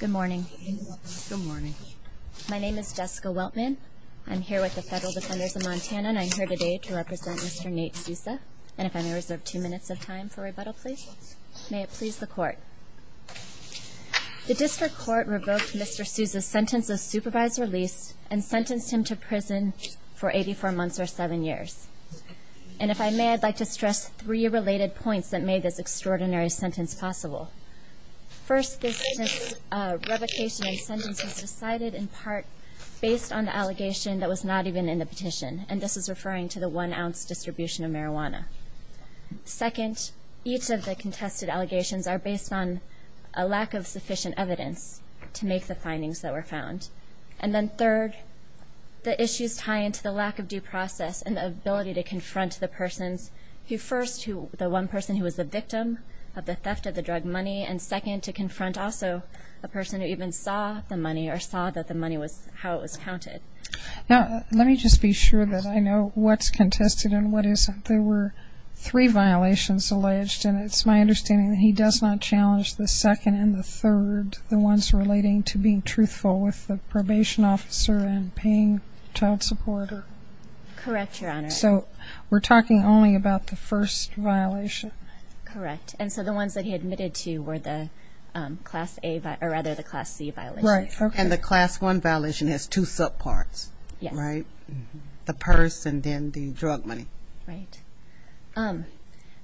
Good morning. My name is Jessica Weltman. I'm here with the Federal Defenders of Montana, and I'm here today to represent Mr. Nate Souza. And if I may reserve two minutes of time for rebuttal, please. May it please the Court. The District Court revoked Mr. Souza's sentence of supervised release and sentenced him to prison for 84 months or seven years. And if I may, I'd like to stress three related points that made this extraordinary sentence possible. First, this revocation and sentence was decided in part based on the allegation that was not even in the petition, and this is referring to the one ounce distribution of marijuana. Second, each of the contested allegations are based on a lack of sufficient evidence to make the findings that were found. And then third, the issues tie into the lack of due process and the ability to confront the persons who first, the one person who was the victim of the theft of the drug money, and second, to confront also a person who even saw the money or saw that the money was how it was counted. Now, let me just be sure that I know what's contested and what isn't. There were three violations alleged, and it's my understanding that he does not challenge the second and the third, the ones relating to being truthful with the probation officer and paying child support. Correct, Your Honor. So we're talking only about the first violation? Correct. And so the ones that he admitted to were the Class A, or rather the Class C violations. Right. And the Class 1 violation has two subparts, right? Yes. The purse and then the drug money. Right.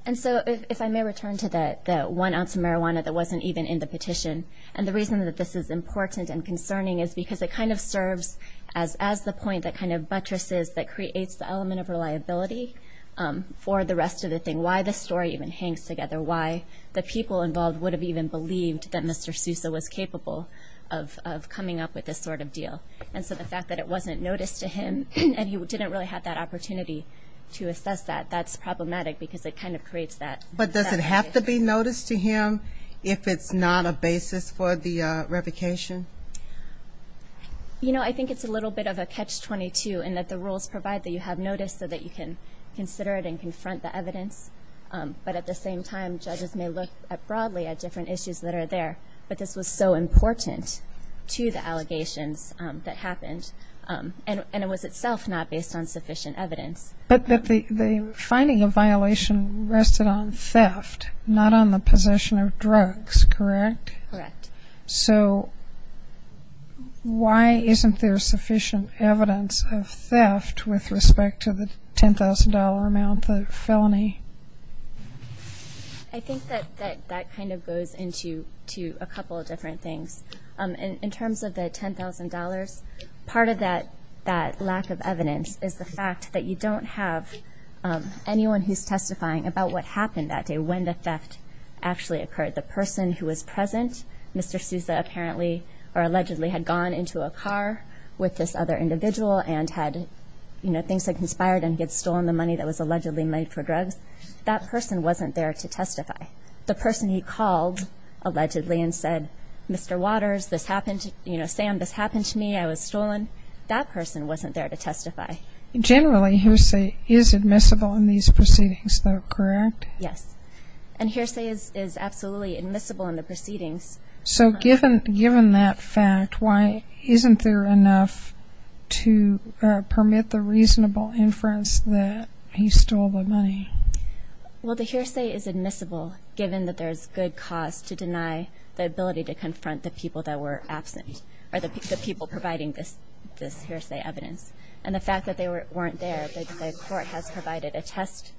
And so if I may return to the one ounce of marijuana that wasn't even in the petition, and the reason that this is important and concerning is because it kind of serves as the point that kind of buttresses, that creates the element of reliability for the rest of the thing, why the story even hangs together, why the people involved would have even believed that Mr. Sousa was capable of coming up with this sort of deal. And so the fact that it wasn't noticed to him and he didn't really have that opportunity to assess that, that's problematic because it kind of creates that. But does it have to be noticed to him if it's not a basis for the revocation? You know, I think it's a little bit of a catch-22 in that the rules provide that you have notice so that you can consider it and confront the evidence. But at the same time, judges may look broadly at different issues that are there. But this was so important to the allegations that happened, and it was itself not based on sufficient evidence. But the finding of violation rested on theft, not on the possession of drugs, correct? Correct. So why isn't there sufficient evidence of theft with respect to the $10,000 amount, the felony? I think that that kind of goes into a couple of different things. In terms of the $10,000, part of that lack of evidence is the fact that you don't have anyone who's testifying about what happened that day, when the theft actually occurred. The person who was present, Mr. Sousa apparently or allegedly had gone into a car with this other individual and had, you know, things had conspired and had stolen the money that was allegedly made for drugs. That person wasn't there to testify. The person he called allegedly and said, Mr. Waters, this happened to, you know, Sam, this happened to me. I was stolen. That person wasn't there to testify. Generally, hearsay is admissible in these proceedings, though, correct? Yes. And hearsay is absolutely admissible in the proceedings. So given that fact, why isn't there enough to permit the reasonable inference that he stole the money? Well, the hearsay is admissible given that there's good cause to deny the ability to confront the people that were absent or the people providing this hearsay evidence. And the fact that they weren't there, that the court has provided a test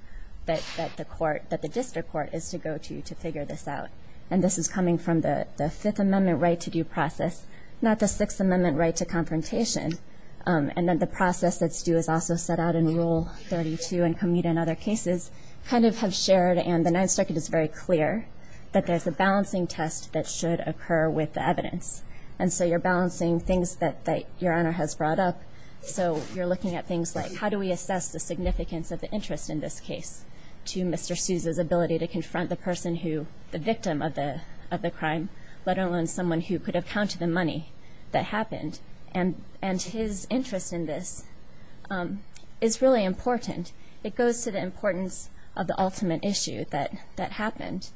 that the court, that the district court is to go to to figure this out. And this is coming from the Fifth Amendment right-to-do process, not the Sixth Amendment right to confrontation. And then the process that's due is also set out in Rule 32 and commute in other cases, kind of have shared and the Ninth Circuit is very clear that there's a balancing test that should occur with the evidence. And so you're balancing things that Your Honor has brought up. So you're looking at things like how do we assess the significance of the interest in this case to Mr. Sousa's ability to confront the person who, the victim of the crime, let alone someone who could have counted the money that happened. And his interest in this is really important. It goes to the importance of the ultimate issue that happened.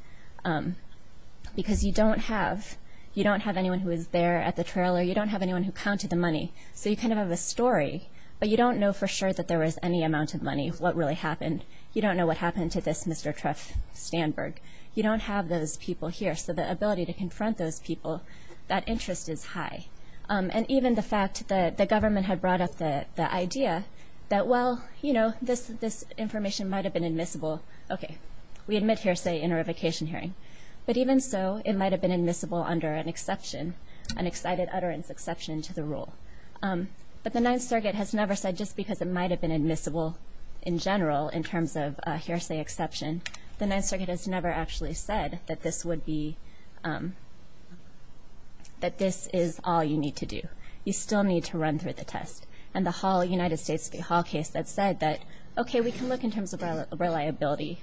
Because you don't have anyone who was there at the trailer. You don't have anyone who counted the money. So you kind of have a story, but you don't know for sure that there was any amount of money, what really happened. You don't know what happened to this Mr. Treff Standberg. You don't have those people here. So the ability to confront those people, that interest is high. And even the fact that the government had brought up the idea that, well, you know, this information might have been admissible. Okay. We admit hearsay in a revocation hearing. But even so, it might have been admissible under an exception, an excited utterance exception to the rule. But the Ninth Circuit has never said just because it might have been admissible in general in terms of hearsay exception, the Ninth Circuit has never actually said that this would be, that this is all you need to do. You still need to run through the test. And the United States Hall case that said that, okay, we can look in terms of reliability,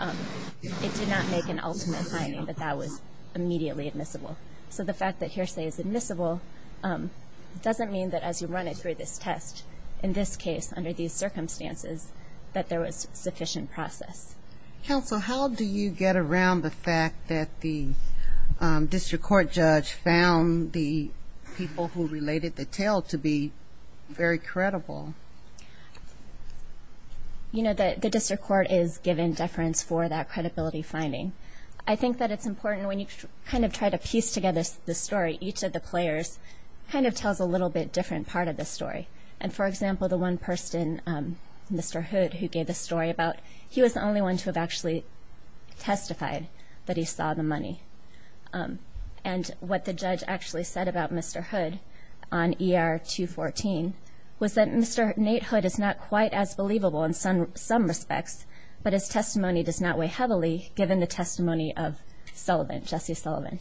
it did not make an ultimate finding that that was immediately admissible. So the fact that hearsay is admissible doesn't mean that as you run it through this test, in this case, under these circumstances, that there was sufficient process. Counsel, how do you get around the fact that the district court judge found the people who related the tale to be very credible? You know, the district court is given deference for that credibility finding. I think that it's important when you kind of try to piece together the story, each of the players kind of tells a little bit different part of the story. And, for example, the one person, Mr. Hood, who gave the story about he was the only one to have actually testified that he saw the money. And what the judge actually said about Mr. Hood on ER 214 was that Mr. Nate Hood is not quite as believable in some respects, but his testimony does not weigh heavily given the testimony of Sullivan, Jesse Sullivan.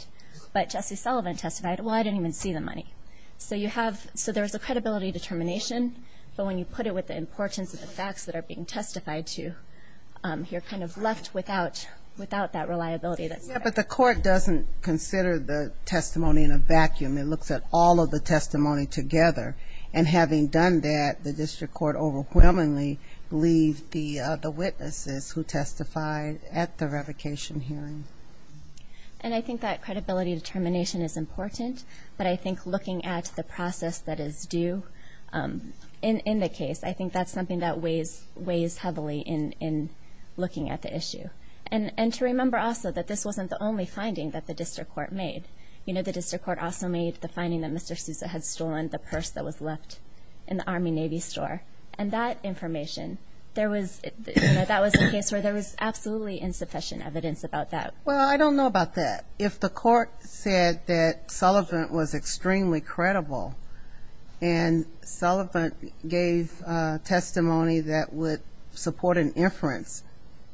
But Jesse Sullivan testified, well, I didn't even see the money. So you have – so there's a credibility determination, but when you put it with the importance of the facts that are being testified to, you're kind of left without that reliability that's there. Yeah, but the court doesn't consider the testimony in a vacuum. It looks at all of the testimony together. And having done that, the district court overwhelmingly believed the witnesses who testified at the revocation hearing. And I think that credibility determination is important, but I think looking at the process that is due in the case, I think that's something that weighs heavily in looking at the issue. And to remember also that this wasn't the only finding that the district court made. You know, the district court also made the finding that Mr. Sousa had stolen the purse that was left in the Army-Navy store. And that information, there was – you know, that was a case where there was absolutely insufficient evidence about that. Well, I don't know about that. If the court said that Sullivan was extremely credible and Sullivan gave testimony that would support an inference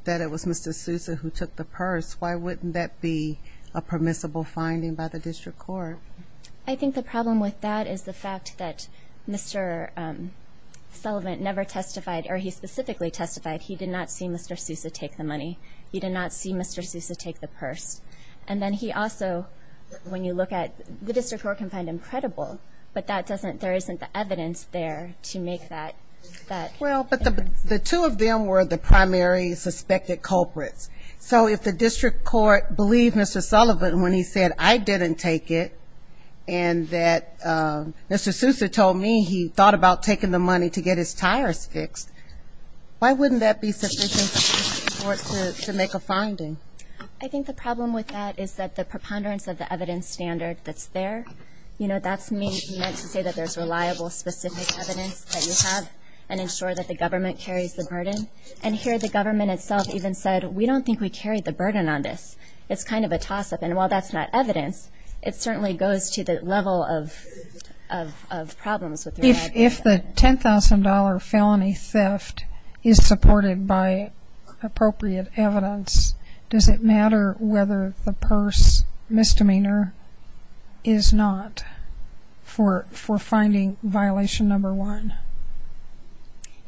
that it was Mr. Sousa who took the purse, why wouldn't that be a permissible finding by the district court? I think the problem with that is the fact that Mr. Sullivan never testified or he specifically testified he did not see Mr. Sousa take the money. He did not see Mr. Sousa take the purse. And then he also, when you look at – the district court can find him credible, but that doesn't – there isn't the evidence there to make that inference. Well, but the two of them were the primary suspected culprits. So if the district court believed Mr. Sullivan when he said, I didn't take it and that Mr. Sousa told me he thought about taking the money to get his tires fixed, why wouldn't that be sufficient for the district court to make a finding? I think the problem with that is that the preponderance of the evidence standard that's there, you know, that's meant to say that there's reliable, specific evidence that you have and ensure that the government carries the burden. And here the government itself even said, we don't think we carry the burden on this. It's kind of a toss-up. And while that's not evidence, it certainly goes to the level of problems with reliable evidence. If the $10,000 felony theft is supported by appropriate evidence, does it matter whether the purse misdemeanor is not for finding violation number one?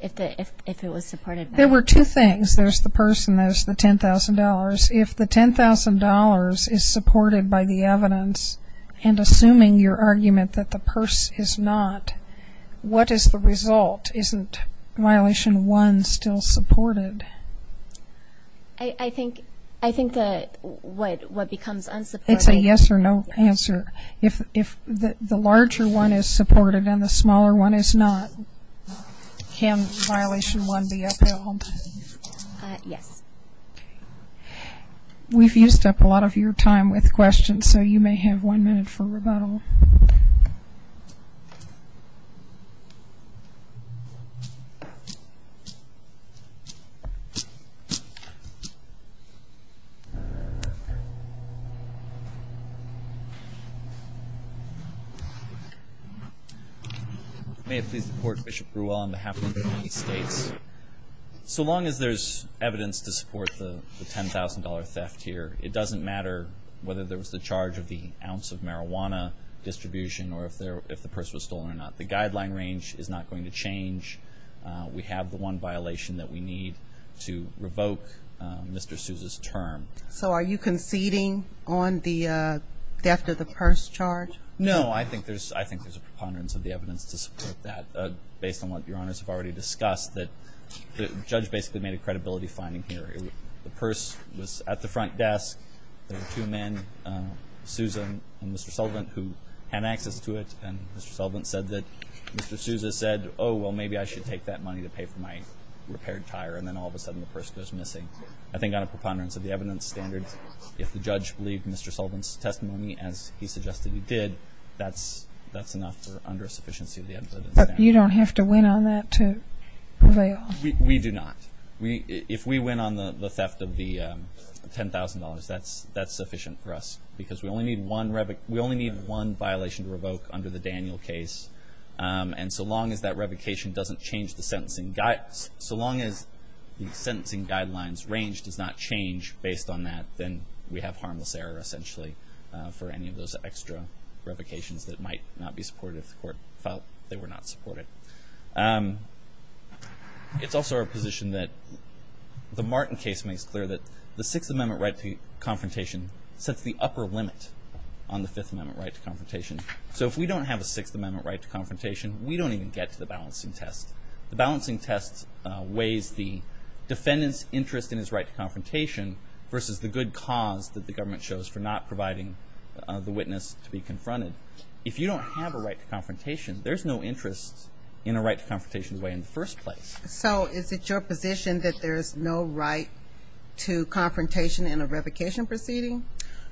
If it was supported by... There were two things. There's the purse and there's the $10,000. If the $10,000 is supported by the evidence and assuming your argument that the purse is not, what is the result? Isn't violation one still supported? I think that what becomes unsupported... It's a yes or no answer. If the larger one is supported and the smaller one is not, can violation one be upheld? Yes. We've used up a lot of your time with questions, so you may have one minute for rebuttal. May it please the Court, Bishop Brewell on behalf of the United States. So long as there's evidence to support the $10,000 theft here, it doesn't matter whether there was the charge of the ounce of marijuana distribution or if the purse was stolen or not. The guideline range is not going to change. We have the one violation that we need to revoke Mr. Sousa's term. So are you conceding on the theft of the purse charge? No. I think there's a preponderance of the evidence to support that based on what Your Honors have already discussed, that the judge basically made a credibility finding here. The purse was at the front desk. There were two men, Susan and Mr. Sullivan, who had access to it, and Mr. Sullivan said that Mr. Sousa said, oh, well, maybe I should take that money to pay for my repaired tire, and then all of a sudden the purse goes missing. I think on a preponderance of the evidence standard, if the judge believed Mr. Sullivan's testimony as he suggested he did, that's enough or under a sufficiency of the evidence standard. But you don't have to win on that to avail? We do not. If we win on the theft of the $10,000, that's sufficient for us because we only need one violation to revoke under the Daniel case, and so long as that revocation doesn't change the sentencing guidelines, range does not change based on that, then we have harmless error, essentially, for any of those extra revocations that might not be supported if the court felt they were not supported. It's also our position that the Martin case makes clear that the Sixth Amendment right to confrontation sets the upper limit on the Fifth Amendment right to confrontation. So if we don't have a Sixth Amendment right to confrontation, we don't even get to the balancing test. The balancing test weighs the defendant's interest in his right to confrontation versus the good cause that the government shows for not providing the witness to be confronted. If you don't have a right to confrontation, there's no interest in a right to confrontation way in the first place. So is it your position that there's no right to confrontation in a revocation proceeding?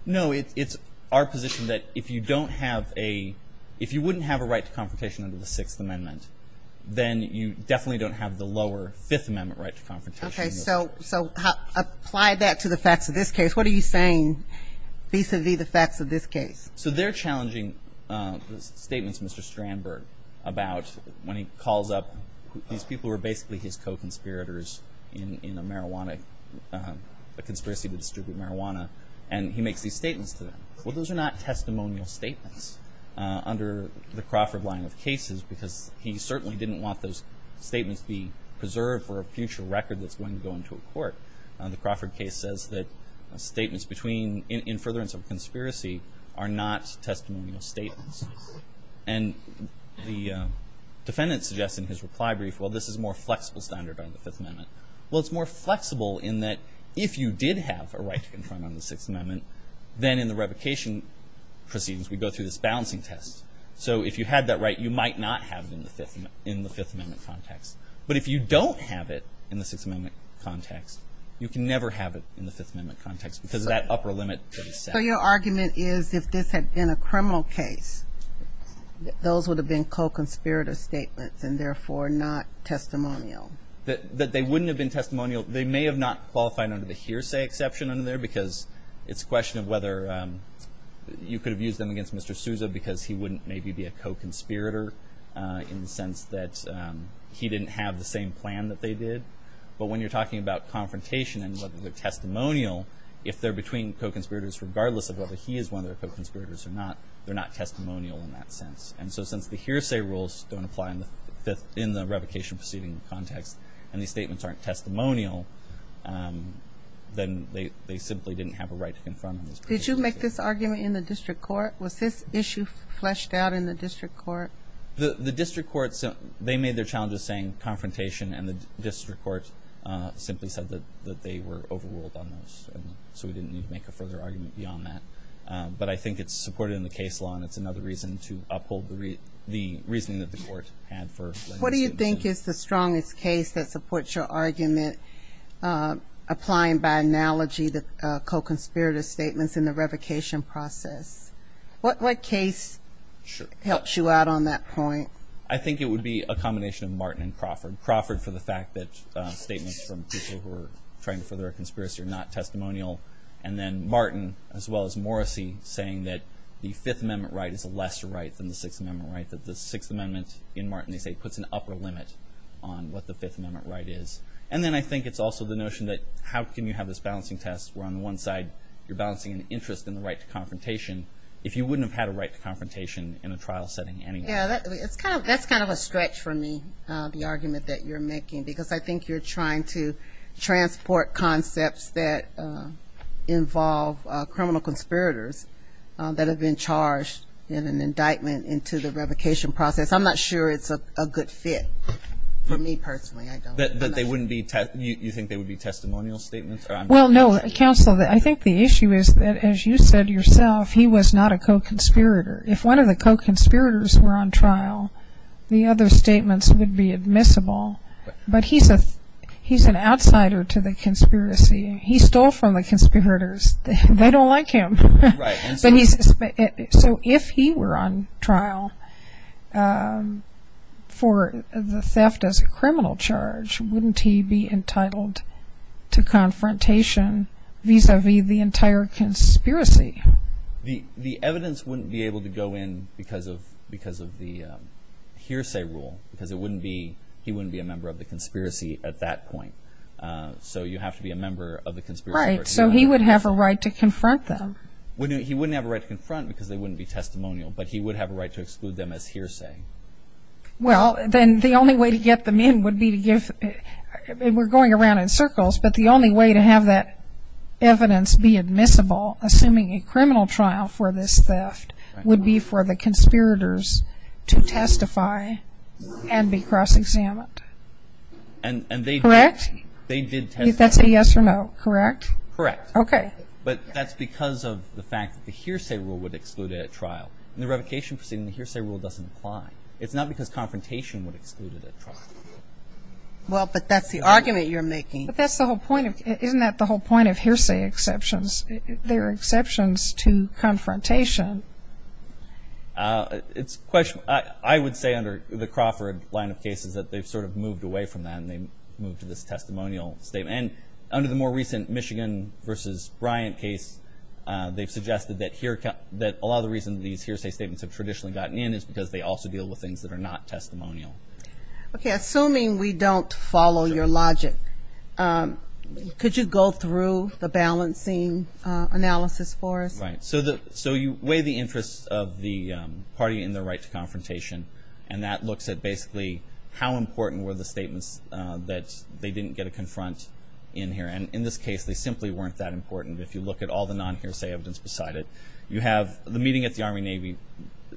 No, it's our position that if you don't have a – if you wouldn't have a right to confrontation under the Sixth Amendment, then you definitely don't have the lower Fifth Amendment right to confrontation. Okay, so apply that to the facts of this case. What are you saying vis-à-vis the facts of this case? So they're challenging the statements of Mr. Strandberg about when he calls up – these people were basically his co-conspirators in a marijuana – a conspiracy to distribute marijuana, and he makes these statements to them. Well, those are not testimonial statements under the Crawford line of cases because he certainly didn't want those statements to be preserved for a future record that's going to go into a court. The Crawford case says that statements between – in furtherance of a conspiracy are not testimonial statements. And the defendant suggests in his reply brief, well, this is a more flexible standard under the Fifth Amendment. Well, it's more flexible in that if you did have a right to confront on the Sixth Amendment, then in the revocation proceedings we go through this balancing test. So if you had that right, you might not have it in the Fifth Amendment context. But if you don't have it in the Sixth Amendment context, you can never have it in the Fifth Amendment context because of that upper limit. So your argument is if this had been a criminal case, those would have been co-conspirator statements and therefore not testimonial. That they wouldn't have been testimonial. They may have not qualified under the hearsay exception under there because it's a question of whether you could have used them against Mr. Sousa because he wouldn't maybe be a co-conspirator in the sense that he didn't have the same plan that they did. But when you're talking about confrontation and whether they're testimonial, if they're between co-conspirators, regardless of whether he is one of their co-conspirators or not, they're not testimonial in that sense. And so since the hearsay rules don't apply in the revocation proceeding context and these statements aren't testimonial, then they simply didn't have a right to confirm. Did you make this argument in the district court? Was this issue fleshed out in the district court? The district court, they made their challenge of saying confrontation and the district court simply said that they were overruled on those. So we didn't need to make a further argument beyond that. But I think it's supported in the case law and it's another reason to uphold the reasoning that the court had for. What do you think is the strongest case that supports your argument applying by analogy the co-conspirator statements in the revocation process? What case helps you out on that point? I think it would be a combination of Martin and Crawford. Crawford for the fact that statements from people who are trying to further a conspiracy are not testimonial. And then Martin as well as Morrissey saying that the Fifth Amendment right is a lesser right than the Sixth Amendment right, that the Sixth Amendment in Martin, they say, puts an upper limit on what the Fifth Amendment right is. And then I think it's also the notion that how can you have this balancing test where on the one side you're balancing an interest in the right to confrontation if you wouldn't have had a right to confrontation in a trial setting anyway? Yeah, that's kind of a stretch for me, the argument that you're making, because I think you're trying to transport concepts that involve criminal conspirators that have been charged in an indictment into the revocation process. I'm not sure it's a good fit for me personally. You think they would be testimonial statements? Well, no, counsel, I think the issue is that as you said yourself, he was not a co-conspirator. If one of the co-conspirators were on trial, the other statements would be admissible. But he's an outsider to the conspiracy. He stole from the conspirators. They don't like him. So if he were on trial for the theft as a criminal charge, wouldn't he be entitled to confrontation vis-à-vis the entire conspiracy? The evidence wouldn't be able to go in because of the hearsay rule, because he wouldn't be a member of the conspiracy at that point. So you have to be a member of the conspiracy. Right. So he would have a right to confront them. He wouldn't have a right to confront because they wouldn't be testimonial, but he would have a right to exclude them as hearsay. Well, then the only way to get them in would be to give – and we're going around in circles, but the only way to have that evidence be admissible, assuming a criminal trial for this theft, would be for the conspirators to testify and be cross-examined. Correct? They did testify. That's a yes or no, correct? Correct. Okay. But that's because of the fact that the hearsay rule would exclude it at trial. In the revocation proceeding, the hearsay rule doesn't apply. It's not because confrontation would exclude it at trial. Well, but that's the argument you're making. But that's the whole point. Isn't that the whole point of hearsay exceptions? They're exceptions to confrontation. It's a question – I would say under the Crawford line of cases that they've sort of moved away from that and they moved to this testimonial statement. And under the more recent Michigan v. Bryant case, they've suggested that a lot of the reason these hearsay statements have traditionally gotten in is because they also deal with things that are not testimonial. Okay. Assuming we don't follow your logic, could you go through the balancing analysis for us? Right. So you weigh the interests of the party and their right to confrontation, and that looks at basically how important were the statements that they didn't get to confront in here. And in this case, they simply weren't that important. If you look at all the non-hearsay evidence beside it, you have the meeting at the Army-Navy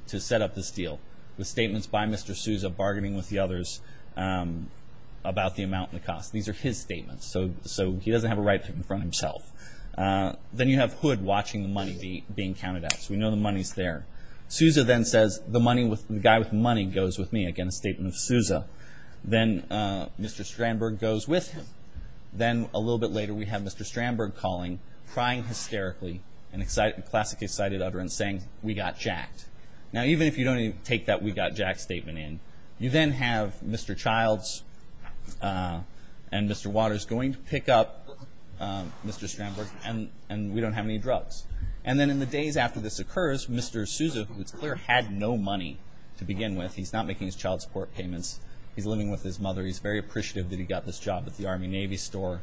to set up this deal with statements by Mr. Sousa bargaining with the others about the amount and the cost. These are his statements. So he doesn't have a right to confront himself. Then you have Hood watching the money being counted out. So we know the money's there. Sousa then says, the guy with money goes with me, again a statement of Sousa. Then Mr. Strandberg goes with him. Then a little bit later we have Mr. Strandberg calling, crying hysterically, and classic excited utterance saying, we got jacked. Now even if you don't even take that we got jacked statement in, you then have Mr. Childs and Mr. Waters going to pick up Mr. Strandberg and we don't have any drugs. Then in the days after this occurs, Mr. Sousa, who it's clear had no money to begin with, he's not making his child support payments. He's living with his mother. He's very appreciative that he got this job at the Army-Navy store.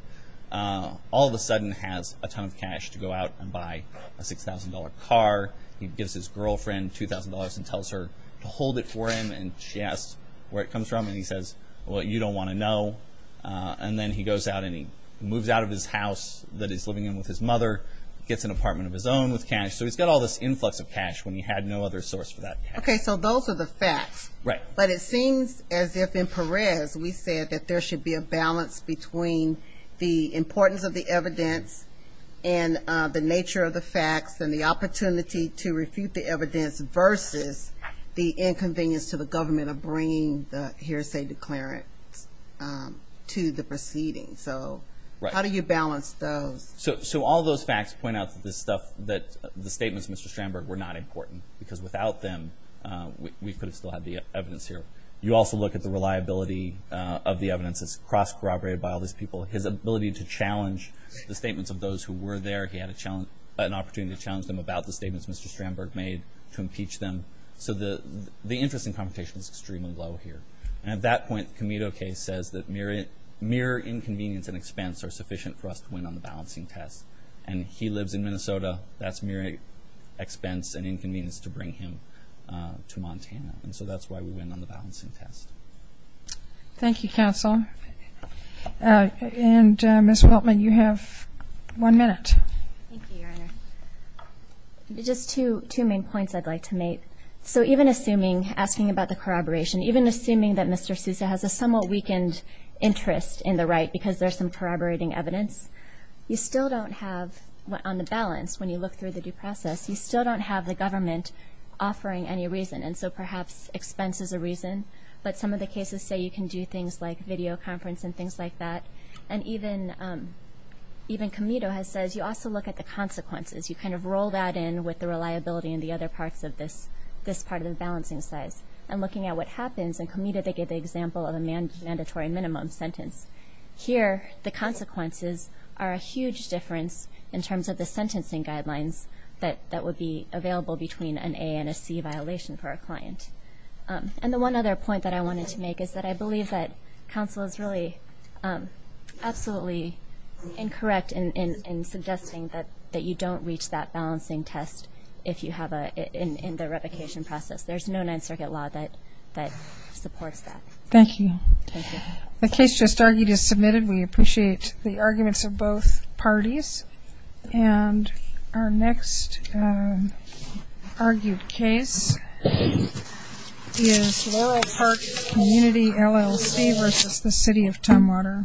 All of a sudden has a ton of cash to go out and buy a $6,000 car. He gives his girlfriend $2,000 and tells her to hold it for him. She asks where it comes from and he says, well, you don't want to know. Then he goes out and he moves out of his house that he's living in with his mother, gets an apartment of his own with cash. So he's got all this influx of cash when he had no other source for that cash. Okay, so those are the facts. Right. But it seems as if in Perez we said that there should be a balance between the importance of the evidence and the nature of the facts and the opportunity to refute the evidence versus the inconvenience to the government of bringing the hearsay declarant to the proceedings. So how do you balance those? So all those facts point out that the statements of Mr. Strandberg were not important because without them we could have still had the evidence here. You also look at the reliability of the evidence. It's cross-corroborated by all these people. His ability to challenge the statements of those who were there, he had an opportunity to challenge them about the statements Mr. Strandberg made to impeach them. So the interest in competition is extremely low here. At that point, the Comito case says that mere inconvenience and expense are sufficient for us to win on the balancing test. And he lives in Minnesota. That's mere expense and inconvenience to bring him to Montana. And so that's why we win on the balancing test. Thank you, counsel. And Ms. Weltman, you have one minute. Thank you, Your Honor. Just two main points I'd like to make. So even assuming, asking about the corroboration, even assuming that Mr. Sousa has a somewhat weakened interest in the right because there's some corroborating evidence, you still don't have on the balance when you look through the due process, you still don't have the government offering any reason. And so perhaps expense is a reason, but some of the cases say you can do things like videoconference and things like that. And even Comito has said you also look at the consequences. You kind of roll that in with the reliability and the other parts of this part of the balancing size. And looking at what happens in Comito, they give the example of a mandatory minimum sentence. Here, the consequences are a huge difference in terms of the sentencing guidelines that would be available between an A and a C violation for a client. And the one other point that I wanted to make is that I believe that counsel is really absolutely incorrect in suggesting that you don't reach that balancing test in the revocation process. There's no Ninth Circuit law that supports that. Thank you. The case just argued is submitted. We appreciate the arguments of both parties. And our next argued case is Laurel Park Community LLC versus the City of Tumwater. Thank you.